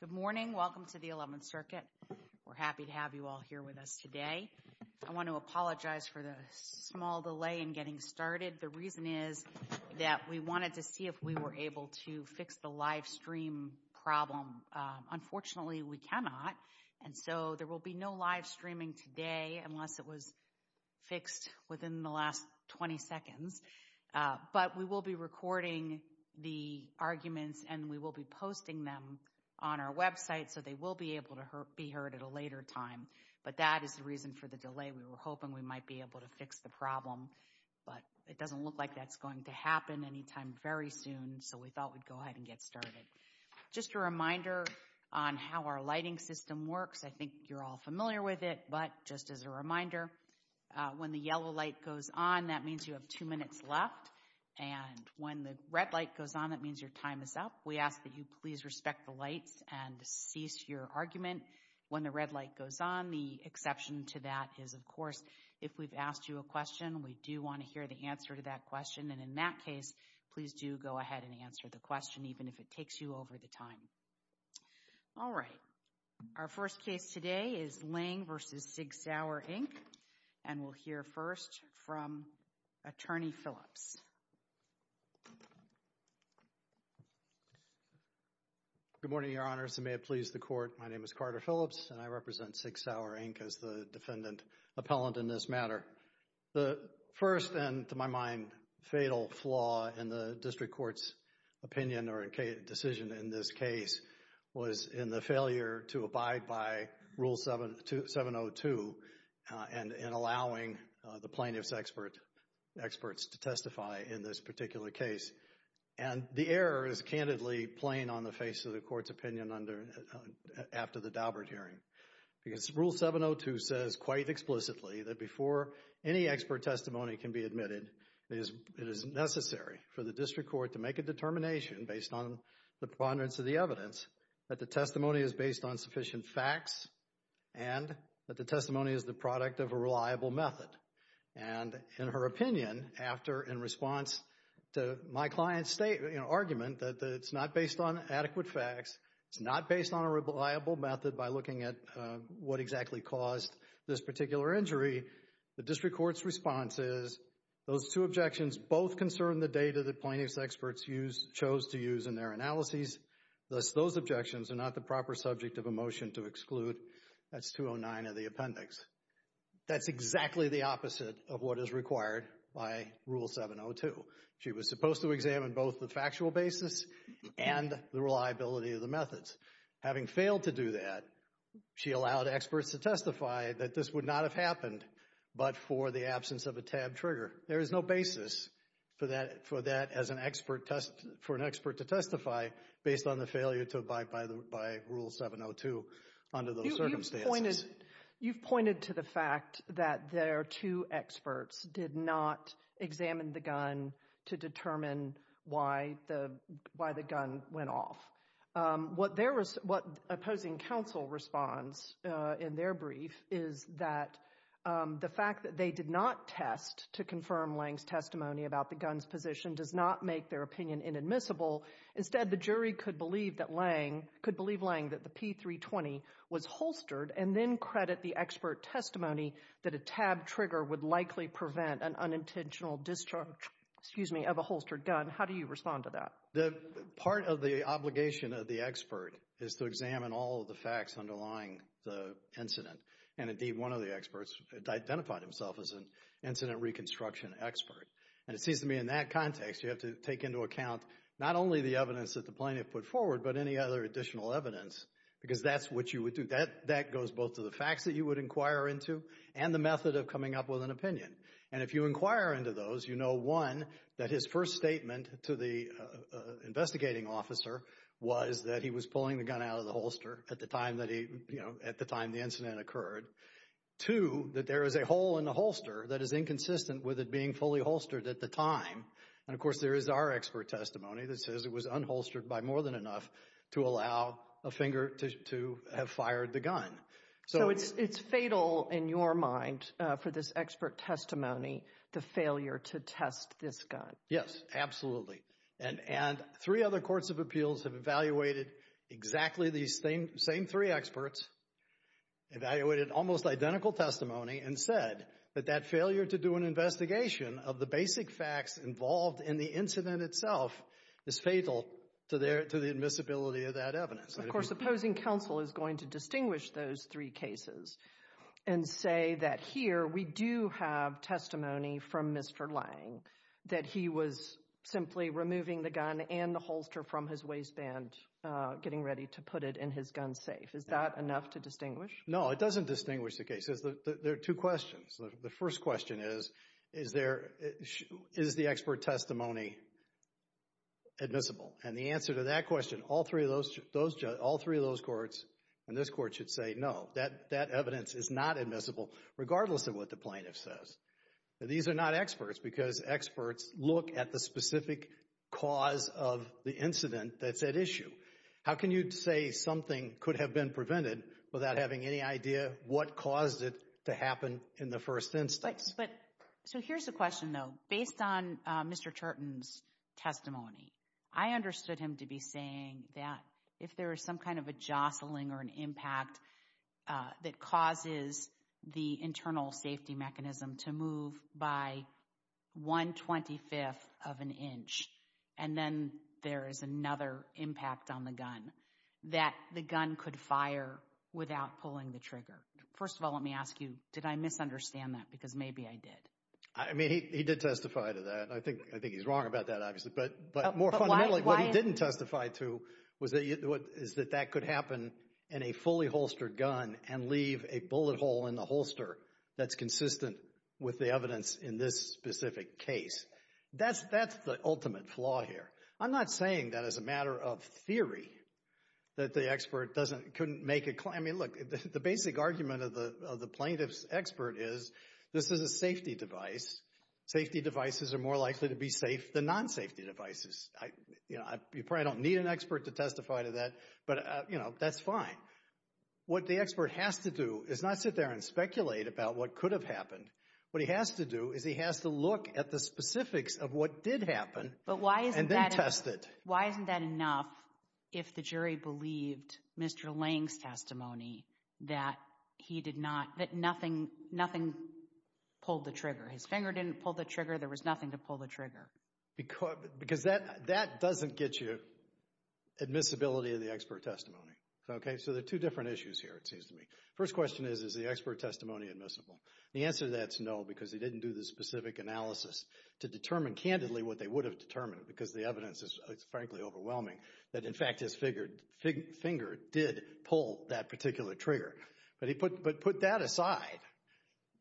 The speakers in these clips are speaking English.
Good morning, welcome to the 11th Circuit. We're happy to have you all here with us today. I want to apologize for the small delay in getting started. The reason is that we wanted to see if we were able to fix the live stream problem. Unfortunately, we cannot, and so there will be no live streaming today unless it was fixed within the last 20 seconds, but we will be recording the arguments and we will be posting them on our website so they will be able to be heard at a later time, but that is the reason for the delay. We were hoping we might be able to fix the problem, but it doesn't look like that's going to happen any time very soon, so we thought we'd go ahead and get started. Just a reminder on how our lighting system works, I think you're all familiar with it, but just as a reminder, when the yellow light goes on, that means you have two minutes left, and when the red light goes on, that means your time is up. We ask that you please respect the lights and cease your argument when the red light goes on. The exception to that is, of course, if we've asked you a question, we do want to hear the answer to that question, and in that case, please do go ahead and answer the question even if it takes you over the time. All right. Our first case today is Lange v. Sig Sauer, Inc., and we'll hear first from Attorney Phillips. Good morning, Your Honors. I may have pleased the Court. My name is Carter Phillips, and I represent Sig Sauer, Inc. as the defendant appellant in this matter. The first and, to my mind, fatal flaw in the district court's opinion or decision in this case was in the failure to abide by Rule 702 in allowing the plaintiff's experts to testify in this particular case, and the error is candidly plain on the face of the court's opinion after the Daubert hearing because Rule 702 says quite explicitly that before any expert testimony can be admitted, it is necessary for the district court to make a statement of evidence that the testimony is based on sufficient facts and that the testimony is the product of a reliable method. And in her opinion, after, in response to my client's argument that it's not based on adequate facts, it's not based on a reliable method by looking at what exactly caused this particular injury, the district court's response is, those two objections both concern the plaintiff's experts chose to use in their analyses, thus those objections are not the proper subject of a motion to exclude. That's 209 of the appendix. That's exactly the opposite of what is required by Rule 702. She was supposed to examine both the factual basis and the reliability of the methods. Having failed to do that, she allowed experts to testify that this would not have happened but for the absence of a tab trigger. There is no basis for that, for that as an expert test, for an expert to testify based on the failure to abide by the, by Rule 702 under those circumstances. You've pointed to the fact that their two experts did not examine the gun to determine why the, why the gun went off. What their, what opposing counsel responds in their brief is that the fact that they did not test to confirm Lange's testimony about the gun's position does not make their opinion inadmissible. Instead the jury could believe that Lange, could believe Lange that the P320 was holstered and then credit the expert testimony that a tab trigger would likely prevent an unintentional discharge, excuse me, of a holstered gun. How do you respond to that? Part of the obligation of the expert is to examine all of the facts underlying the incident and indeed one of the experts identified himself as an incident reconstruction expert. And it seems to me in that context you have to take into account not only the evidence that the plaintiff put forward but any other additional evidence because that's what you would do. That goes both to the facts that you would inquire into and the method of coming up with an opinion. And if you inquire into those, you know one, that his first statement to the investigating officer was that he was pulling the gun out of the holster at the time that he, you know, at the time the incident occurred. Two, that there is a hole in the holster that is inconsistent with it being fully holstered at the time. And of course there is our expert testimony that says it was unholstered by more than enough to allow a finger to have fired the gun. So it's fatal in your mind for this expert testimony, the failure to test this gun. Yes, absolutely. And three other courts of appeals have evaluated exactly these same three experts, evaluated almost identical testimony and said that that failure to do an investigation of the basic facts involved in the incident itself is fatal to the admissibility of that evidence. Of course, opposing counsel is going to distinguish those three cases and say that here we do have testimony from Mr. Lange that he was simply removing the gun and the holster from his waistband, getting ready to put it in his gun safe. Is that enough to distinguish? No, it doesn't distinguish the cases. There are two questions. The first question is, is there, is the expert testimony admissible? And the answer to that question, all three of those, all three of those courts and this evidence is not admissible, regardless of what the plaintiff says. These are not experts because experts look at the specific cause of the incident that's at issue. How can you say something could have been prevented without having any idea what caused it to happen in the first instance? But, so here's the question though. Based on Mr. Churton's testimony, I understood him to be saying that if there was some kind of a jostling or an impact that causes the internal safety mechanism to move by one twenty-fifth of an inch, and then there is another impact on the gun, that the gun could fire without pulling the trigger. First of all, let me ask you, did I misunderstand that? Because maybe I did. I mean, he did testify to that. I think he's wrong about that, obviously, but more fundamentally, what he didn't testify to is that that could happen in a fully holstered gun and leave a bullet hole in the holster that's consistent with the evidence in this specific case. That's the ultimate flaw here. I'm not saying that as a matter of theory, that the expert couldn't make a claim. I mean, look, the basic argument of the plaintiff's expert is, this is a safety device. Safety devices are more likely to be safe than non-safety devices. You probably don't need an expert to testify to that, but, you know, that's fine. What the expert has to do is not sit there and speculate about what could have happened. What he has to do is he has to look at the specifics of what did happen and then test it. Why isn't that enough if the jury believed Mr. Lange's testimony that he did not, that nothing pulled the trigger? His finger didn't pull the trigger. There was nothing to pull the trigger. Because that doesn't get you admissibility of the expert testimony. Okay? So there are two different issues here, it seems to me. First question is, is the expert testimony admissible? The answer to that is no, because he didn't do the specific analysis to determine candidly what they would have determined, because the evidence is frankly overwhelming, that in fact his finger did pull that particular trigger. But put that aside.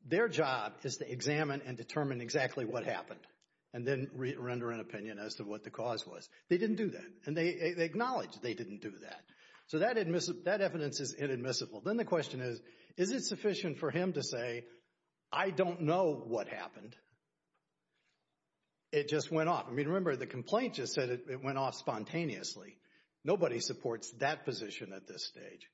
Their job is to examine and determine exactly what happened and then render an opinion as to what the cause was. They didn't do that. And they acknowledge they didn't do that. So that evidence is inadmissible. Then the question is, is it sufficient for him to say, I don't know what happened. It just went off. I mean, remember the complaint just said it went off spontaneously. Nobody supports that position at this stage.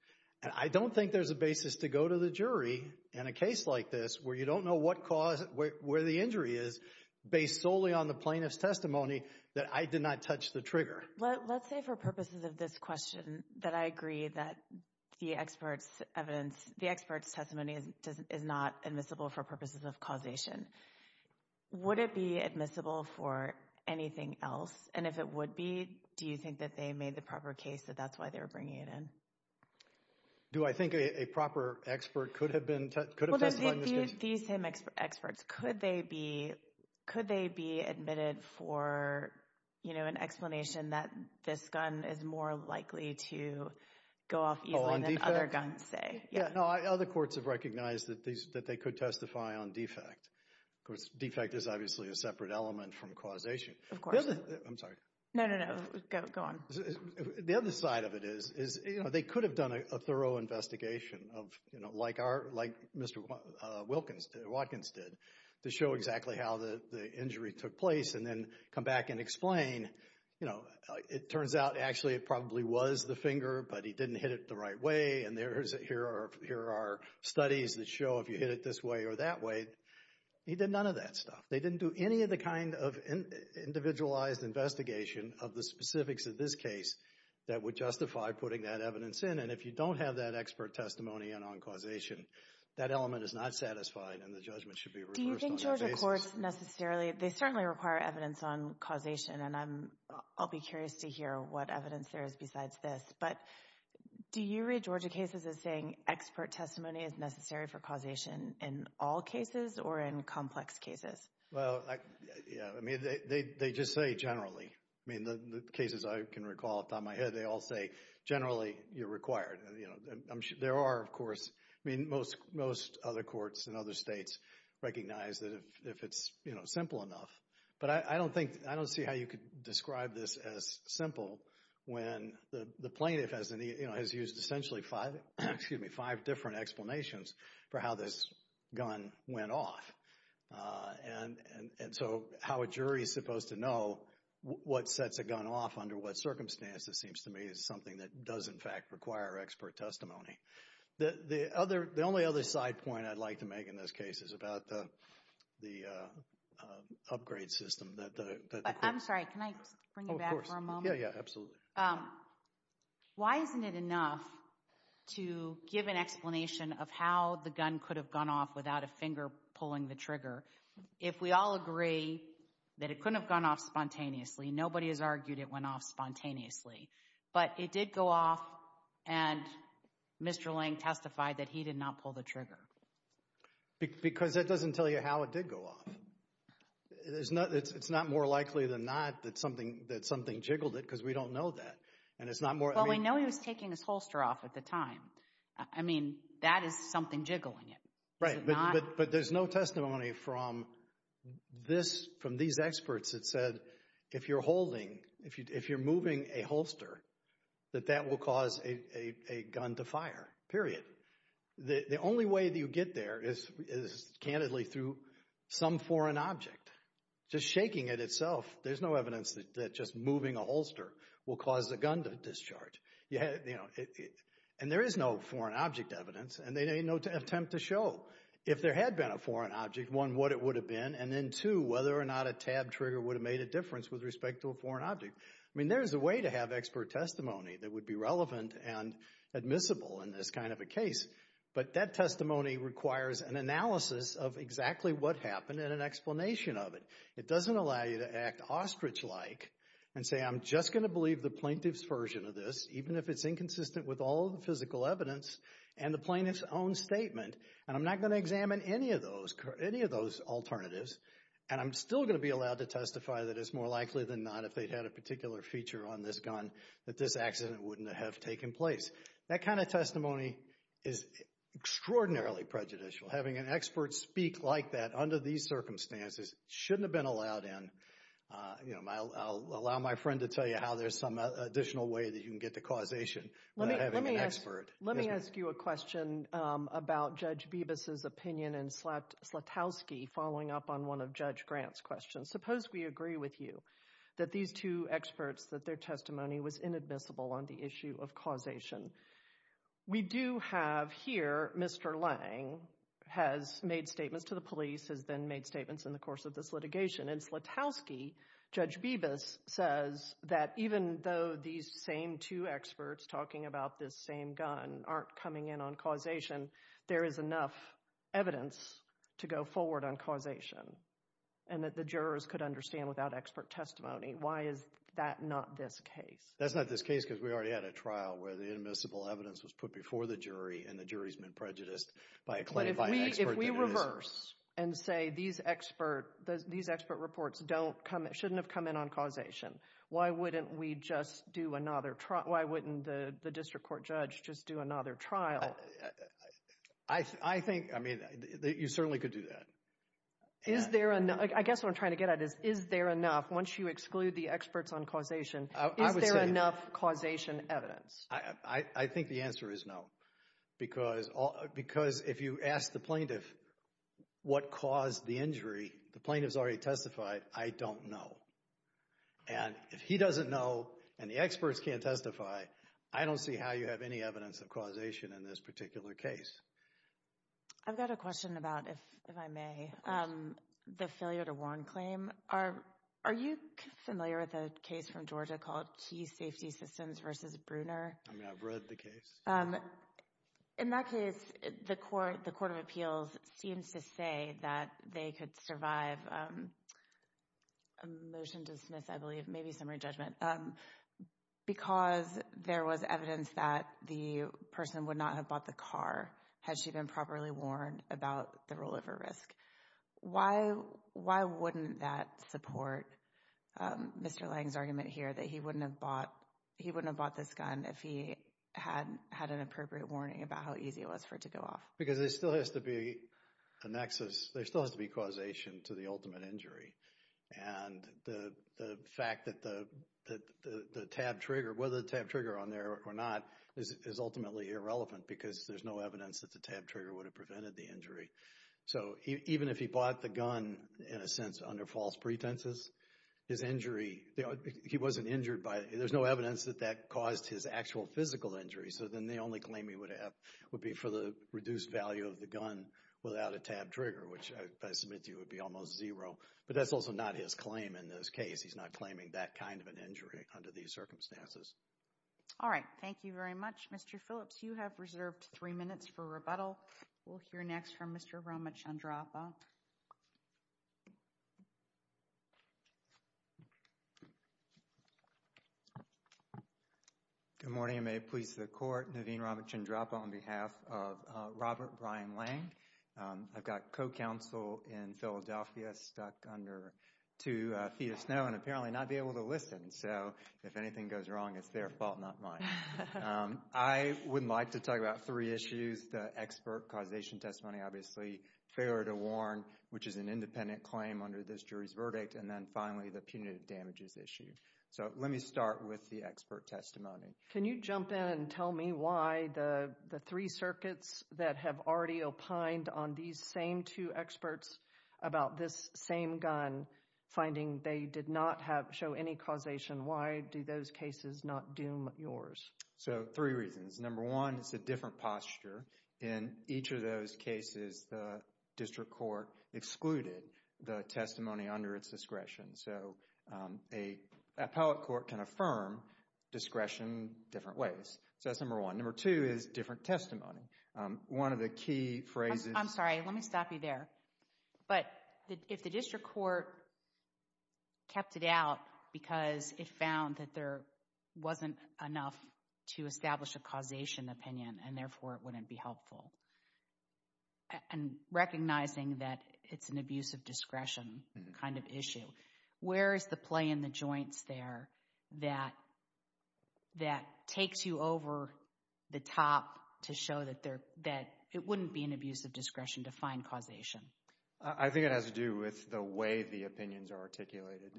And I don't think there's a basis to go to the jury in a case like this where you don't know what cause, where the injury is, based solely on the plaintiff's testimony that I did not touch the trigger. Let's say for purposes of this question that I agree that the expert's evidence, the expert's testimony is not admissible for purposes of causation. Would it be admissible for anything else? And if it would be, do you think that they made the proper case that that's why they were bringing it in? Do I think a proper expert could have been, could have testified in this case? These same experts, could they be, could they be admitted for, you know, an explanation that this gun is more likely to go off easily than other guns say? Yeah, no, other courts have recognized that they could testify on defect. Of course, defect is obviously a separate element from causation. Of course. I'm sorry. No, no, no. Go on. The other side of it is, is, you know, they could have done a thorough investigation of, you know, like our, like Mr. Watkins did, to show exactly how the injury took place and then come back and explain, you know, it turns out actually it probably was the finger but he didn't hit it the right way and there's, here are, here are studies that show if you hit it this way or that way. He did none of that stuff. They didn't do any of the kind of individualized investigation of the specifics of this case that would justify putting that evidence in and if you don't have that expert testimony in on causation, that element is not satisfied and the judgment should be reversed on that basis. Do you think Georgia courts necessarily, they certainly require evidence on causation and I'm, I'll be curious to hear what evidence there is besides this, but do you read Georgia cases as saying expert testimony is necessary for causation in all cases or in complex cases? Well, I, yeah, I mean, they just say generally. I mean, the cases I can recall off the top of my head, they all say generally you're required and, you know, there are, of course, I mean, most, most other courts in other states recognize that if it's, you know, simple enough. But I don't think, I don't see how you could describe this as simple when the plaintiff has, you know, has used essentially five, excuse me, five different explanations for how this gun went off and, and so how a jury is supposed to know what sets a gun off under what circumstances seems to me is something that does, in fact, require expert testimony. The other, the only other side point I'd like to make in this case is about the, the upgrade system that the. I'm sorry, can I bring you back for a moment? Oh, of course. Yeah, yeah, absolutely. Why isn't it enough to give an explanation of how the gun could have gone off without a finger pulling the trigger if we all agree that it couldn't have gone off spontaneously? Nobody has argued it went off spontaneously. But it did go off and Mr. Lang testified that he did not pull the trigger. Because that doesn't tell you how it did go off. There's not, it's not more likely than not that something, that something jiggled it because we don't know that. And it's not more. Well, we know he was taking his holster off at the time. I mean, that is something jiggling it. Right. But there's no testimony from this, from these experts that said, if you're holding, if you're moving a holster, that that will cause a gun to fire, period. The only way that you get there is, is candidly through some foreign object. Just shaking it itself, there's no evidence that just moving a holster will cause the gun to discharge. And there is no foreign object evidence. And there ain't no attempt to show, if there had been a foreign object, one, what it would have been. And then two, whether or not a tab trigger would have made a difference with respect to a foreign object. I mean, there is a way to have expert testimony that would be relevant and admissible in this kind of a case. But that testimony requires an analysis of exactly what happened and an explanation of it. It doesn't allow you to act ostrich-like and say, I'm just going to believe the plaintiff's version of this, even if it's inconsistent with all the physical evidence and the plaintiff's own statement. And I'm not going to examine any of those, any of those alternatives. And I'm still going to be allowed to testify that it's more likely than not, if they'd had a particular feature on this gun, that this accident wouldn't have taken place. That kind of testimony is extraordinarily prejudicial. Having an expert speak like that under these circumstances shouldn't have been allowed in. You know, I'll allow my friend to tell you how there's some additional way that you can get to causation without having an expert. Let me ask you a question about Judge Bibas's opinion and Slutowski following up on one of Judge Grant's questions. Suppose we agree with you that these two experts, that their testimony was inadmissible on the issue of causation. We do have here, Mr. Lange has made statements to the police, has then made statements in the course of this litigation, and Slutowski, Judge Bibas, says that even though these same two experts talking about this same gun aren't coming in on causation, there is enough evidence to go forward on causation and that the jurors could understand without expert testimony. Why is that not this case? That's not this case because we already had a trial where the inadmissible evidence was put before the jury and the jury's been prejudiced by a claim by an expert. But if we reverse and say these expert reports don't come, shouldn't have come in on causation, why wouldn't we just do another, why wouldn't the district court judge just do another trial? I think, I mean, you certainly could do that. Is there, I guess what I'm trying to get at is, is there enough, once you exclude the experts on causation, is there enough causation evidence? I think the answer is no. Because if you ask the plaintiff what caused the injury, the plaintiff's already testified, I don't know. And if he doesn't know and the experts can't testify, I don't see how you have any evidence of causation in this particular case. I've got a question about, if I may, the failure to warn claim. Are you familiar with a case from Georgia called Key Safety Systems v. Bruner? I mean, I've read the case. In that case, the Court of Appeals seems to say that they could survive a motion to dismiss, I believe, maybe summary judgment, because there was evidence that the person would not have bought the car had she been properly warned about the role of her risk. Why wouldn't that support Mr. Lange's argument here that he wouldn't have bought this gun if he had had an appropriate warning about how easy it was for it to go off? Because there still has to be a nexus, there still has to be causation to the ultimate injury. And the fact that the tab trigger, whether the tab trigger on there or not, is ultimately irrelevant because there's no evidence that the tab trigger would have prevented the injury. So even if he bought the gun, in a sense, under false pretenses, his injury, he wasn't injured by it. There's no evidence that that caused his actual physical injury. So then the only claim he would have would be for the reduced value of the gun without a tab trigger, which I submit to you would be almost zero. But that's also not his claim in this case. He's not claiming that kind of an injury under these circumstances. All right. Thank you very much. Mr. Phillips, you have reserved three minutes for rebuttal. We'll hear next from Mr. Ramachandrapa. Good morning. May it please the Court. Naveen Ramachandrapa on behalf of Robert Brian Lang. I've got co-counsel in Philadelphia stuck under two feet of snow and apparently not be able to listen. So if anything goes wrong, it's their fault, not mine. I would like to talk about three issues. The expert causation testimony, obviously, failure to warn, which is an independent claim under this jury's verdict, and then finally the punitive damages issue. So let me start with the expert testimony. Can you jump in and tell me why the three circuits that have already opined on these same two experts about this same gun finding they did not show any causation, why do those cases not doom yours? So three reasons. Number one, it's a different posture. In each of those cases, the district court excluded the testimony under its discretion. So an appellate court can affirm discretion different ways. So that's number one. Number two is different testimony. One of the key phrases— I'm sorry. Let me stop you there. But if the district court kept it out because it found that there wasn't enough to establish a causation opinion and therefore it wouldn't be helpful, and recognizing that it's an abuse of discretion kind of issue, where is the play in the joints there that takes you over the top to show that it wouldn't be an abuse of discretion to find causation? I think it has to do with the way the opinions are articulated.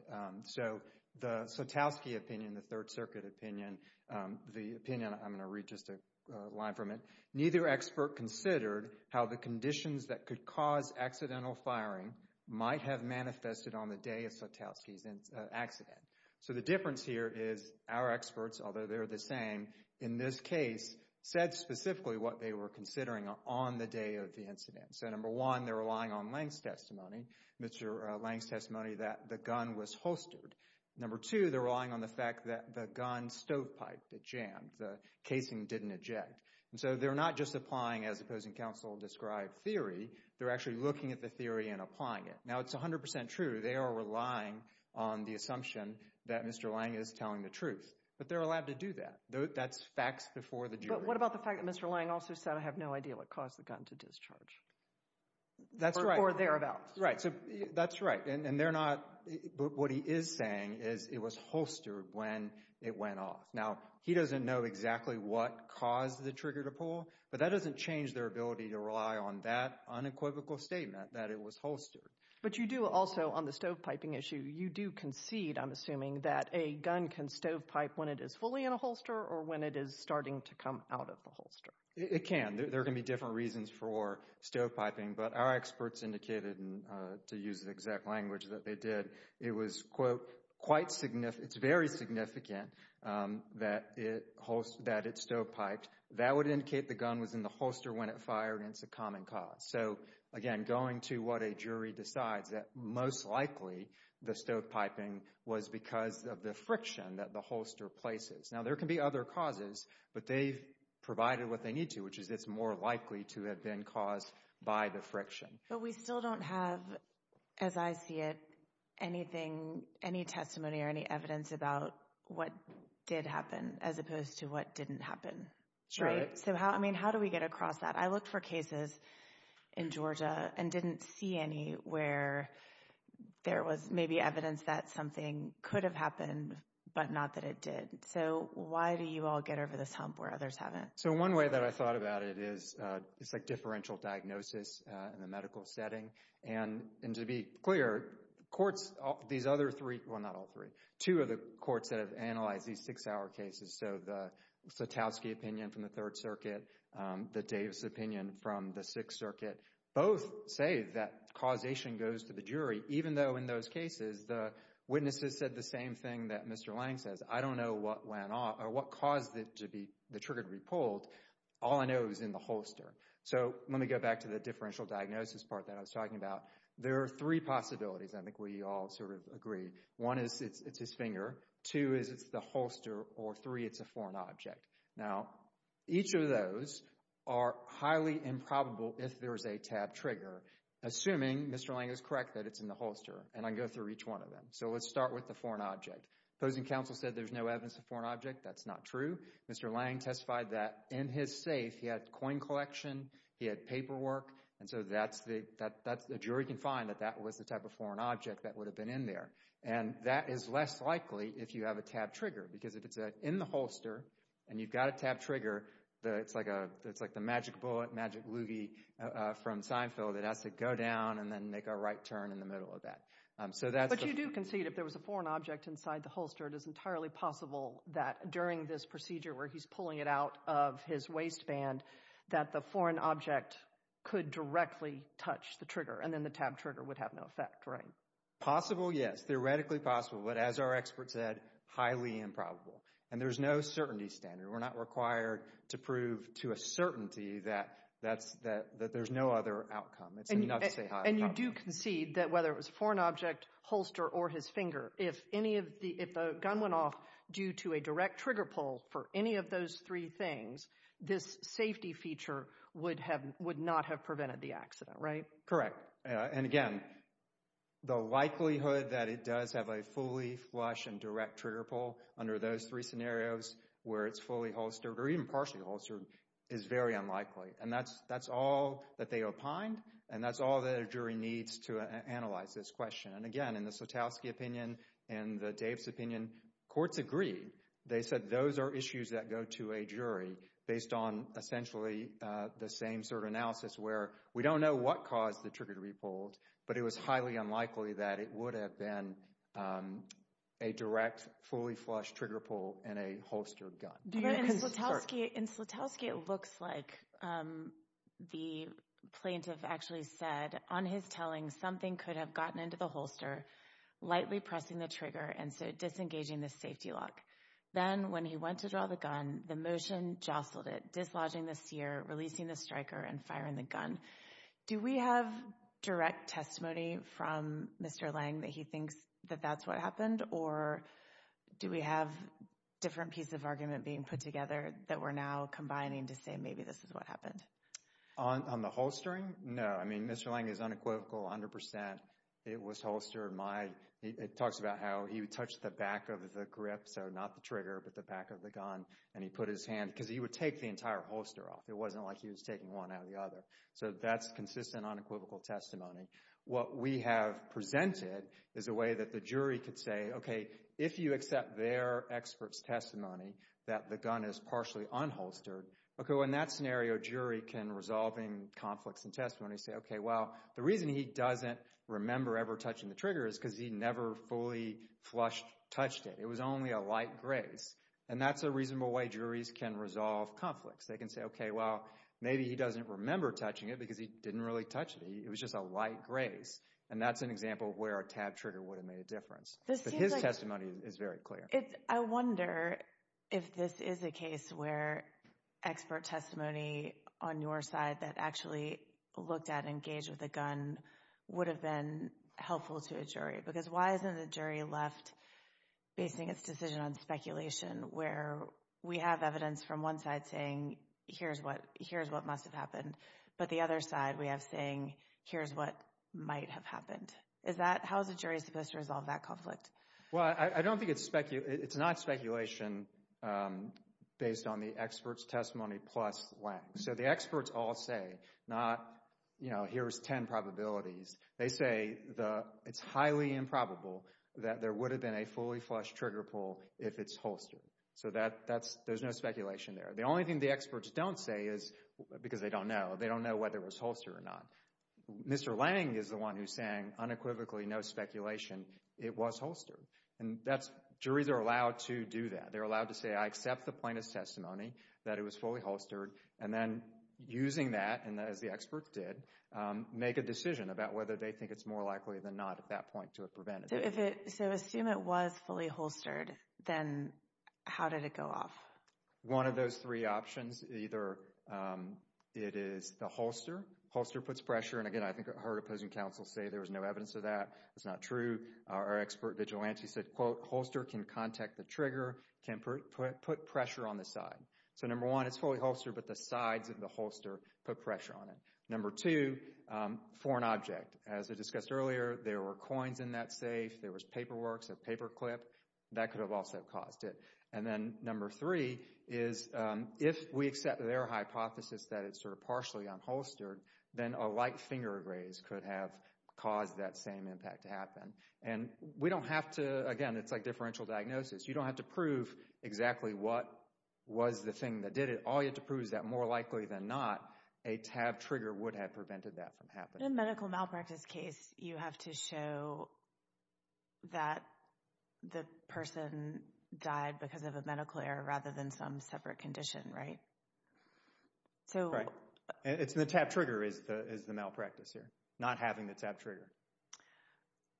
So the Sotowski opinion, the Third Circuit opinion, the opinion—I'm going to read just a line from it—neither expert considered how the conditions that could cause accidental firing might have manifested on the day of Sotowski's accident. So the difference here is our experts, although they're the same, in this case said specifically what they were considering on the day of the incident. So number one, they're relying on Lange's testimony, Mr. Lange's testimony that the gun was holstered. Number two, they're relying on the fact that the gun stovepipe that jammed, the casing didn't eject. And so they're not just applying as opposing counsel described theory, they're actually looking at the theory and applying it. Now it's 100 percent true, they are relying on the assumption that Mr. Lange is telling the truth. But they're allowed to do that. That's facts before the jury. But what about the fact that Mr. Lange also said I have no idea what caused the gun to discharge? That's right. Or thereabouts. Right. So that's right. And they're not, what he is saying is it was holstered when it went off. Now he doesn't know exactly what caused the trigger to pull, but that doesn't change their ability to rely on that unequivocal statement that it was holstered. But you do also, on the stovepiping issue, you do concede, I'm assuming, that a gun can stovepipe when it is fully in a holster or when it is starting to come out of the holster? It can. There can be different reasons for stovepiping. But our experts indicated, to use the exact language that they did, it was, quote, quite significant, it's very significant that it stovepiped. That would indicate the gun was in the holster when it fired, and it's a common cause. So again, going to what a jury decides, that most likely the stovepiping was because of the friction that the holster places. Now there can be other causes, but they've provided what they need to, which is it's more likely to have been caused by the friction. But we still don't have, as I see it, anything, any testimony or any evidence about what did happen as opposed to what didn't happen. Right? So how do we get across that? I looked for cases in Georgia and didn't see any where there was maybe evidence that something could have happened, but not that it did. So why do you all get over this hump where others haven't? So one way that I thought about it is, it's like differential diagnosis in the medical setting, and to be clear, courts, these other three, well not all three, two of the courts that have analyzed these six-hour cases, so the Sotowsky opinion from the Third Circuit, the Davis opinion from the Sixth Circuit, both say that causation goes to the jury, even though in those cases the witnesses said the same thing that Mr. Lange says, I don't know what went on, or what caused it to be, the trigger to be pulled, all I know is in the holster. So let me go back to the differential diagnosis part that I was talking about. There are three possibilities, I think we all sort of agree. One is it's his finger, two is it's the holster, or three, it's a foreign object. Now each of those are highly improbable if there's a tab trigger, assuming Mr. Lange is correct that it's in the holster, and I go through each one of them. So let's start with the foreign object. Opposing counsel said there's no evidence of foreign object, that's not true. Mr. Lange testified that in his safe he had coin collection, he had paperwork, and so the jury can find that that was the type of foreign object that would have been in there. And that is less likely if you have a tab trigger, because if it's in the holster and you've got a tab trigger, it's like the magic bullet, magic loogie from Seinfeld that has to go down and then make a right turn in the middle of that. But you do concede if there was a foreign object inside the holster, it is entirely possible that during this procedure where he's pulling it out of his waistband, that the foreign object could directly touch the trigger, and then the tab trigger would have no effect, right? Possible, yes, theoretically possible, but as our expert said, highly improbable. And there's no certainty standard, we're not required to prove to a certainty that there's no other outcome, it's enough to say highly improbable. And you do concede that whether it was a foreign object, holster, or his finger, if any of the, if the gun went off due to a direct trigger pull for any of those three things, this safety feature would have, would not have prevented the accident, right? Correct. And again, the likelihood that it does have a fully flush and direct trigger pull under those three scenarios where it's fully holstered or even partially holstered is very unlikely. And that's, that's all that they opined, and that's all that a jury needs to analyze this question. And again, in the Slutowski opinion and the Daves opinion, courts agreed. They said those are issues that go to a jury based on essentially the same sort of analysis where we don't know what caused the trigger to be pulled, but it was highly unlikely that it would have been a direct, fully flush trigger pull in a holstered gun. In Slutowski, it looks like the plaintiff actually said on his telling, something could have gotten into the holster, lightly pressing the trigger, and so disengaging the safety lock. Then when he went to draw the gun, the motion jostled it, dislodging the sear, releasing the striker, and firing the gun. Do we have direct testimony from Mr. Lange that he thinks that that's what happened, or do we have a different piece of argument being put together that we're now combining to say maybe this is what happened? On the holstering? No. I mean, Mr. Lange is unequivocal 100%. It was holstered. My, it talks about how he touched the back of the grip, so not the trigger, but the back of the gun. And he put his hand, because he would take the entire holster off. It wasn't like he was taking one out of the other. So that's consistent unequivocal testimony. What we have presented is a way that the jury could say, okay, if you accept their expert's testimony that the gun is partially unholstered, okay, in that scenario, a jury can, resolving conflicts and testimony, say, okay, well, the reason he doesn't remember ever touching the trigger is because he never fully flushed, touched it. It was only a light graze. And that's a reasonable way juries can resolve conflicts. They can say, okay, well, maybe he doesn't remember touching it because he didn't really touch it. He, it was just a light graze. And that's an example of where a tab trigger would have made a difference. But his testimony is very clear. I wonder if this is a case where expert testimony on your side that actually looked at and engaged with a gun would have been helpful to a jury. Because why isn't a jury left basing its decision on speculation, where we have evidence from one side saying, here's what, here's what must have happened. But the other side, we have saying, here's what might have happened. Is that, how is a jury supposed to resolve that conflict? Well, I don't think it's spec, it's not speculation based on the expert's testimony plus length. So the experts all say, not, you know, here's 10 probabilities. They say the, it's highly improbable that there would have been a fully flushed trigger pull if it's holstered. So that, that's, there's no speculation there. The only thing the experts don't say is, because they don't know, they don't know whether it was holstered or not. Mr. Lange is the one who's saying, unequivocally, no speculation, it was holstered. And that's, juries are allowed to do that. They're allowed to say, I accept the plaintiff's testimony that it was fully holstered. And then using that, and as the experts did, make a decision about whether they think it's more likely than not at that point to have prevented it. So if it, so assume it was fully holstered, then how did it go off? One of those three options, either it is the holster. Holster puts pressure, and again, I think I heard opposing counsel say there was no evidence of that. That's not true. Our expert vigilante said, quote, holster can contact the trigger, can put pressure on the side. So number one, it's fully holstered, but the sides of the holster put pressure on it. Number two, foreign object. As I discussed earlier, there were coins in that safe. There was paperwork, a paperclip. That could have also caused it. And then number three is if we accept their hypothesis that it's sort of partially unholstered, then a light finger raise could have caused that same impact to happen. And we don't have to, again, it's like differential diagnosis. You don't have to prove exactly what was the thing that did it. All you have to prove is that more likely than not, a tab trigger would have prevented that from happening. In a medical malpractice case, you have to show that the person died because of a medical error rather than some separate condition, right? Right. And it's the tab trigger is the malpractice here, not having the tab trigger.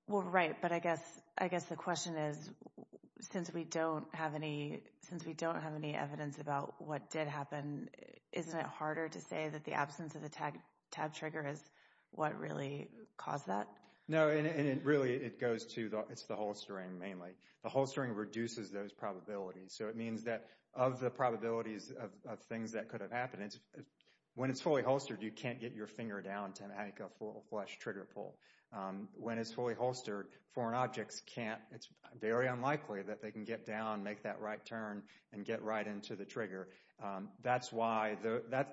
Well, right, but I guess the question is, since we don't have any evidence about what did happen, isn't it harder to say that the absence of the tab trigger is what really caused that? No, and it really, it goes to, it's the holstering mainly. The holstering reduces those probabilities. So it means that of the probabilities of things that could have happened, when it's fully holstered, you can't get your finger down to make a full flush trigger pull. When it's fully holstered, foreign objects can't, it's very unlikely that they can get down, make that right turn, and get right into the trigger. That's why,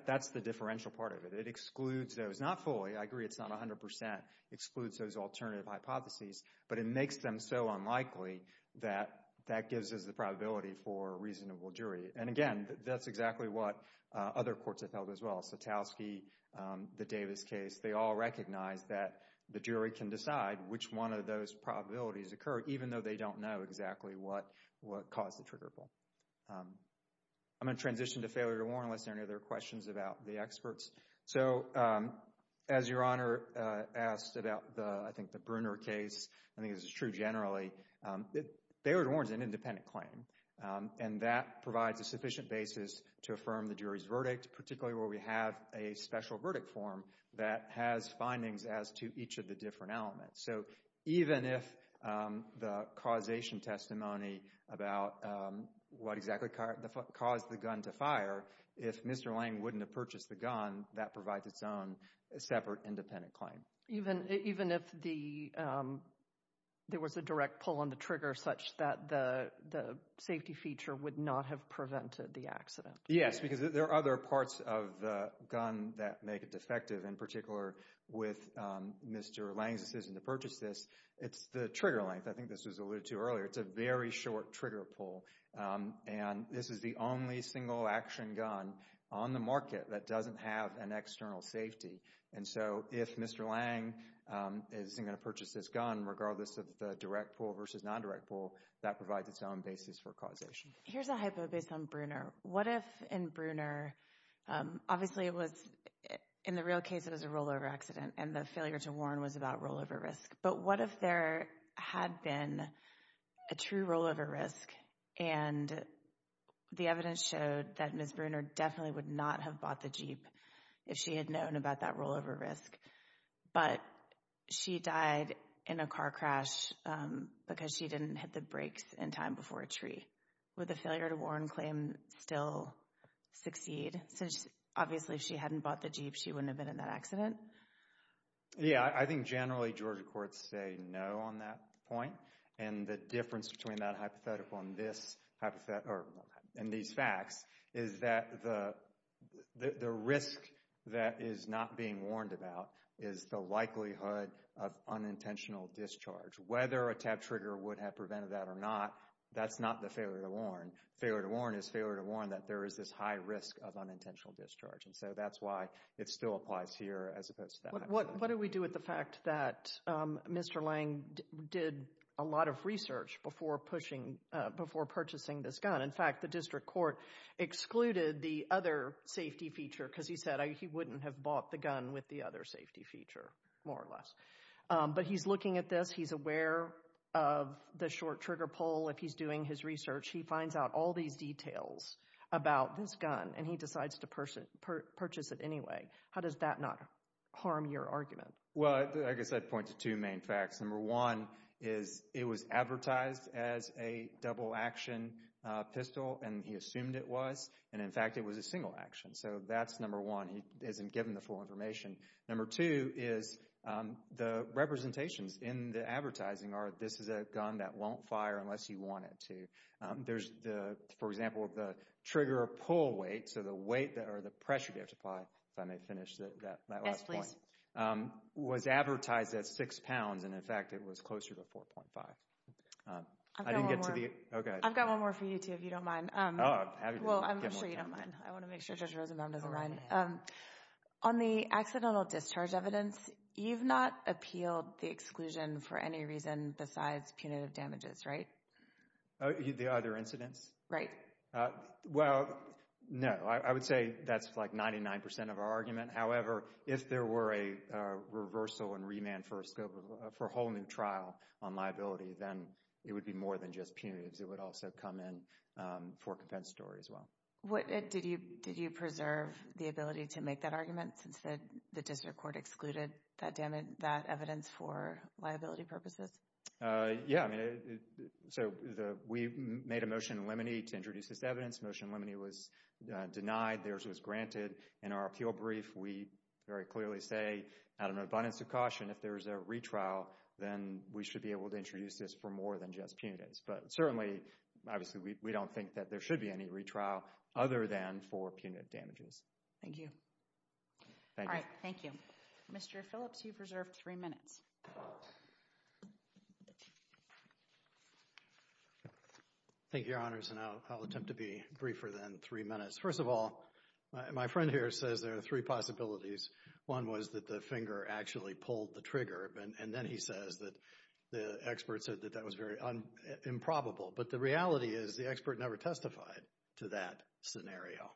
that's the differential part of it. It excludes those, not fully, I agree it's not 100%, excludes those alternative hypotheses, but it makes them so unlikely that that gives us the probability for a reasonable jury. And again, that's exactly what other courts have held as well, Satowski, the Davis case, they all recognize that the jury can decide which one of those probabilities occur, even though they don't know exactly what caused the trigger pull. I'm going to transition to failure to warn, unless there are any other questions about the experts. So as Your Honor asked about the, I think the Brunner case, I think this is true generally, failure to warn is an independent claim, and that provides a sufficient basis to affirm the jury's verdict, particularly where we have a special verdict form that has findings as to each of the different elements. So even if the causation testimony about what exactly caused the gun to fire, if Mr. Lang wouldn't have purchased the gun, that provides its own separate independent claim. Even if there was a direct pull on the trigger such that the safety feature would not have prevented the accident. Yes, because there are other parts of the gun that make it defective, in particular with Mr. Lang's decision to purchase this, it's the trigger length, I think this was alluded to earlier, it's a very short trigger pull, and this is the only single action gun on the market that doesn't have an external safety. And so if Mr. Lang isn't going to purchase this gun, regardless of the direct pull versus non-direct pull, that provides its own basis for causation. Here's a hypo based on Brunner. What if in Brunner, obviously it was, in the real case it was a rollover accident and the failure to warn was about rollover risk, but what if there had been a true rollover risk and the evidence showed that Ms. Brunner definitely would not have bought the Jeep if she had known about that rollover risk, but she died in a car crash because she didn't hit the brakes in time before a tree, would the failure to warn claim still succeed, since obviously if she hadn't bought the Jeep, she wouldn't have been in that accident? Yeah, I think generally Georgia courts say no on that point, and the difference between that hypothetical and this hypothetical, and these facts, is that the risk that is not being warned about is the likelihood of unintentional discharge. Whether a tap trigger would have prevented that or not, that's not the failure to warn. Failure to warn is failure to warn that there is this high risk of unintentional discharge, and so that's why it still applies here as opposed to that. What do we do with the fact that Mr. Lang did a lot of research before purchasing this gun? In fact, the district court excluded the other safety feature because he said he wouldn't have bought the gun with the other safety feature, more or less. But he's looking at this, he's aware of the short trigger pull, if he's doing his research, he finds out all these details about this gun, and he decides to purchase it anyway. How does that not harm your argument? Well, I guess I'd point to two main facts. Number one is it was advertised as a double action pistol, and he assumed it was, and in fact it was a single action. So that's number one, he isn't given the full information. Number two is the representations in the advertising are this is a gun that won't fire unless you want it to. There's the, for example, the trigger pull weight, so the weight, or the pressure to apply, if I may finish that last point, was advertised at six pounds, and in fact it was closer to 4.5. I didn't get to the... Okay. I've got one more for you too, if you don't mind. Well, I'm sure you don't mind. I want to make sure Judge Rosenbaum doesn't mind. Go ahead. On the accidental discharge evidence, you've not appealed the exclusion for any reason besides punitive damages, right? The other incidents? Right. Well, no. I would say that's like 99% of our argument. However, if there were a reversal and remand for a whole new trial on liability, then it would be more than just punitives. It would also come in for a compensatory as well. Did you preserve the ability to make that argument since the district court excluded that evidence for liability purposes? Yeah. I mean, so we made a motion in Lemony to introduce this evidence. Motion in Lemony was denied, theirs was granted. In our appeal brief, we very clearly say, out of an abundance of caution, if there's a retrial, then we should be able to introduce this for more than just punitives. But certainly, obviously, we don't think that there should be any retrial other than for punitive damages. Thank you. Thank you. Thank you. Mr. Phillips, you've reserved three minutes. Thank you, Your Honors, and I'll attempt to be briefer than three minutes. First of all, my friend here says there are three possibilities. One was that the finger actually pulled the trigger, and then he says that the expert said that that was very improbable. But the reality is the expert never testified to that scenario.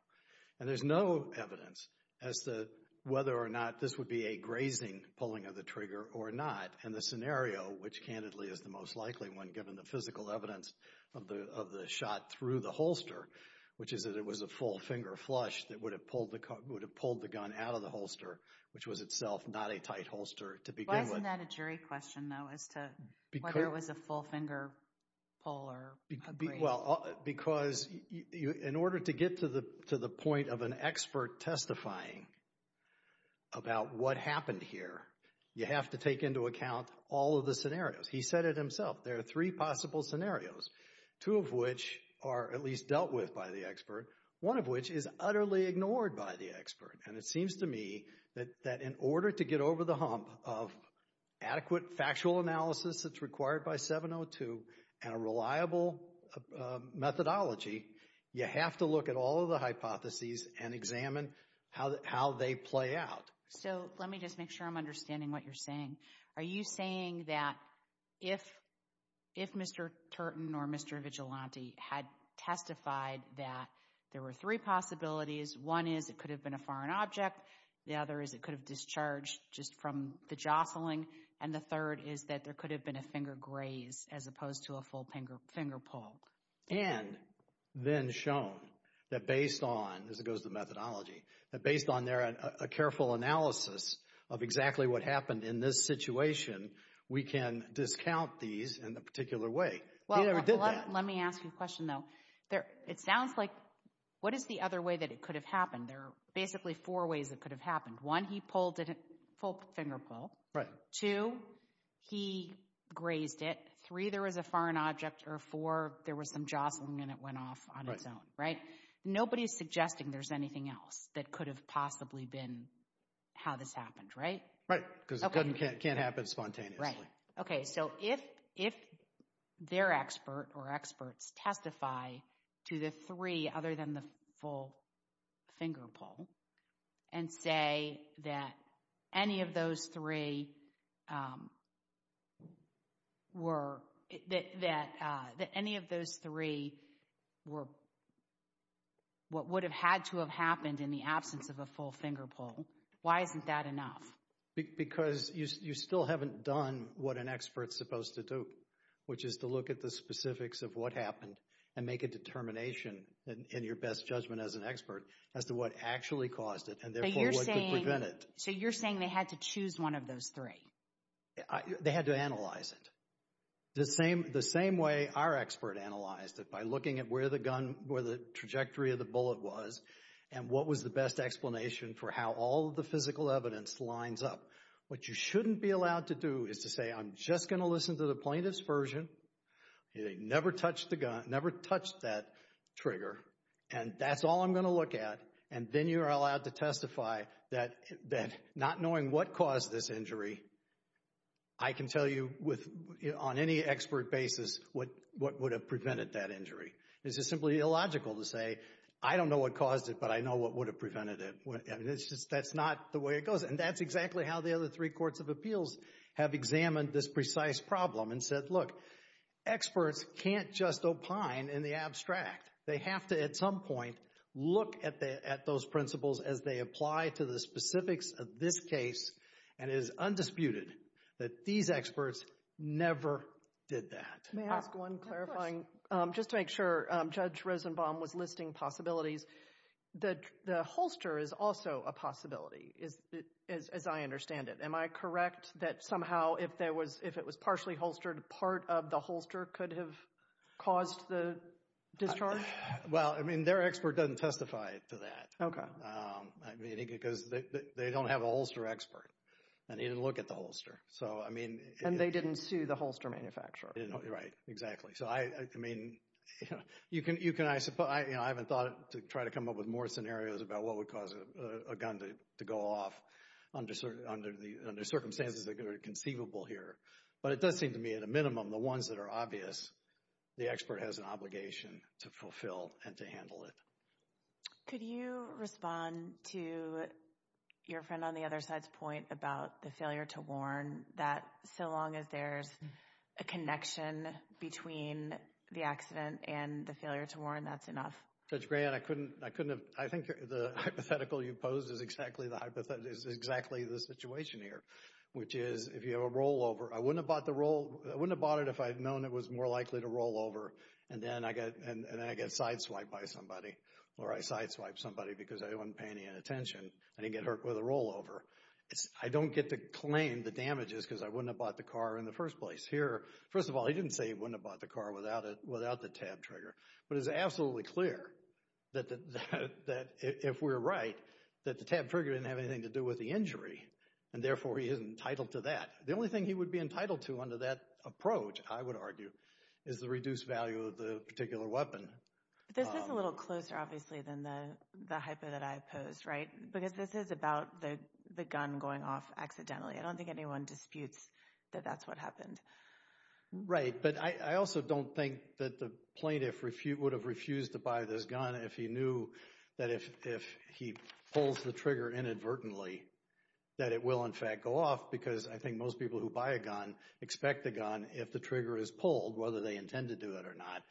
And there's no evidence as to whether or not this would be a grazing pulling of the trigger or not. And the scenario, which, candidly, is the most likely one given the physical evidence of the shot through the holster, which is that it was a full finger flush that would have pulled the gun out of the holster, which was itself not a tight holster to begin with. Isn't that a jury question, though, as to whether it was a full finger pull or a graze? Because in order to get to the point of an expert testifying about what happened here, you have to take into account all of the scenarios. He said it himself. There are three possible scenarios, two of which are at least dealt with by the expert, one of which is utterly ignored by the expert. And it seems to me that in order to get over the hump of adequate factual analysis that's required by 702 and a reliable methodology, you have to look at all of the hypotheses and examine how they play out. So let me just make sure I'm understanding what you're saying. Are you saying that if Mr. Turton or Mr. Vigilante had testified that there were three possibilities, one is it could have been a foreign object, the other is it could have discharged just from the jostling, and the third is that there could have been a finger graze as opposed to a full finger pull? And then shown that based on, as it goes to methodology, that based on their careful analysis of exactly what happened in this situation, we can discount these in a particular way. He never did that. Well, let me ask you a question, though. It sounds like, what is the other way that it could have happened? There are basically four ways it could have happened. One, he pulled a full finger pull. Two, he grazed it. Three, there was a foreign object. Or four, there was some jostling and it went off on its own. Right? Nobody's suggesting there's anything else that could have possibly been how this happened, right? Right. Because it can't happen spontaneously. Right. Okay, so if their expert or experts testify to the three other than the full finger pull and say that any of those three were, that any of those three were what would have had to have happened in the absence of a full finger pull, why isn't that enough? Because you still haven't done what an expert's supposed to do, which is to look at the specifics of what happened and make a determination in your best judgment as an expert as to what actually caused it and therefore what could prevent it. So you're saying they had to choose one of those three? They had to analyze it. The same way our expert analyzed it, by looking at where the gun, where the trajectory of the bullet was and what was the best explanation for how all the physical evidence lines up. What you shouldn't be allowed to do is to say, I'm just going to listen to the plaintiff's version. Okay, they never touched the gun, never touched that trigger and that's all I'm going to look at and then you're allowed to testify that not knowing what caused this injury, I can tell you with, on any expert basis, what would have prevented that injury. It's just simply illogical to say, I don't know what caused it, but I know what would have prevented it. That's not the way it goes and that's exactly how the other three courts of appeals have examined this precise problem and said, look, experts can't just opine in the abstract. They have to, at some point, look at those principles as they apply to the specifics of this case and it is undisputed that these experts never did that. May I ask one clarifying, just to make sure, Judge Rosenbaum was listing possibilities. The holster is also a possibility, as I understand it. Am I correct that somehow if it was partially holstered, part of the holster could have caused the discharge? Well, I mean, their expert doesn't testify to that. Okay. I mean, because they don't have a holster expert and he didn't look at the holster. So I mean... And they didn't sue the holster manufacturer. Right, exactly. So I mean, you know, I haven't thought to try to come up with more scenarios about what would cause a gun to go off under circumstances that are conceivable here. But it does seem to me, at a minimum, the ones that are obvious, the expert has an obligation to fulfill and to handle it. Could you respond to your friend on the other side's point about the failure to warn that so long as there's a connection between the accident and the failure to warn, that's enough? Judge Graham, I couldn't have... I think the hypothetical you posed is exactly the hypothetical, is exactly the situation here, which is if you have a rollover, I wouldn't have bought it if I'd known it was more likely to rollover and then I get sideswiped by somebody or I sideswiped somebody because I wasn't paying any attention. I didn't get hurt with a rollover. I don't get to claim the damages because I wouldn't have bought the car in the first place. Here, first of all, he didn't say he wouldn't have bought the car without the tab trigger. But it's absolutely clear that if we're right, that the tab trigger didn't have anything to do with the injury and therefore he is entitled to that. The only thing he would be entitled to under that approach, I would argue, is the reduced value of the particular weapon. This is a little closer, obviously, than the hypo that I posed, right? Because this is about the gun going off accidentally. I don't think anyone disputes that that's what happened. Right. But I also don't think that the plaintiff would have refused to buy this gun if he knew that if he pulls the trigger inadvertently that it will, in fact, go off because I think most people who buy a gun expect the gun, if the trigger is pulled, whether they intend to do it or not,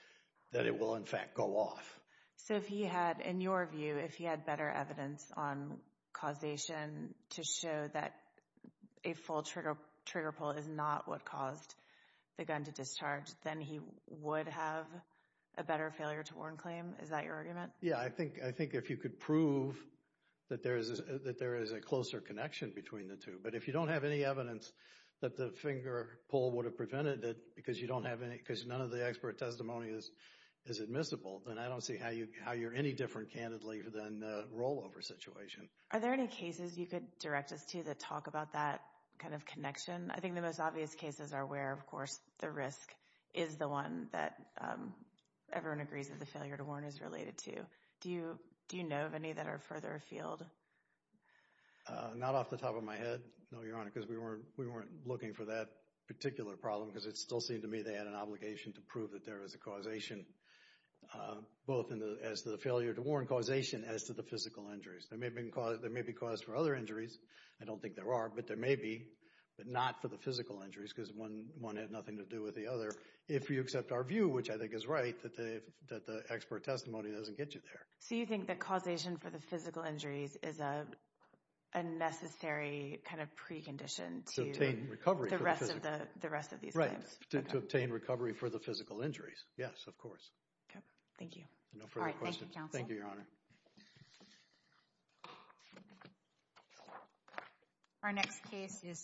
that it will, in fact, go off. So if he had, in your view, if he had better evidence on causation to show that a full trigger pull is not what caused the gun to discharge, then he would have a better failure to warn claim? Is that your argument? Yeah. I think if you could prove that there is a closer connection between the two. But if you don't have any evidence that the finger pull would have prevented it because you don't have any, because none of the expert testimony is admissible, then I don't see how you're any different, candidly, than the rollover situation. Are there any cases you could direct us to that talk about that kind of connection? I think the most obvious cases are where, of course, the risk is the one that everyone agrees that the failure to warn is related to. Do you know of any that are further afield? Not off the top of my head, no, Your Honor, because we weren't looking for that particular problem because it still seemed to me they had an obligation to prove that there was a causation, both as to the failure to warn causation as to the physical injuries. There may be cause for other injuries, I don't think there are, but there may be, but not for the physical injuries because one had nothing to do with the other. If you accept our view, which I think is right, that the expert testimony doesn't get you there. So you think that causation for the physical injuries is a necessary kind of precondition to obtain recovery for the physical injuries? Right, to obtain recovery for the physical injuries, yes, of course. Thank you. No further questions. Thank you, Your Honor. Thank you, Your Honor. Our next case is...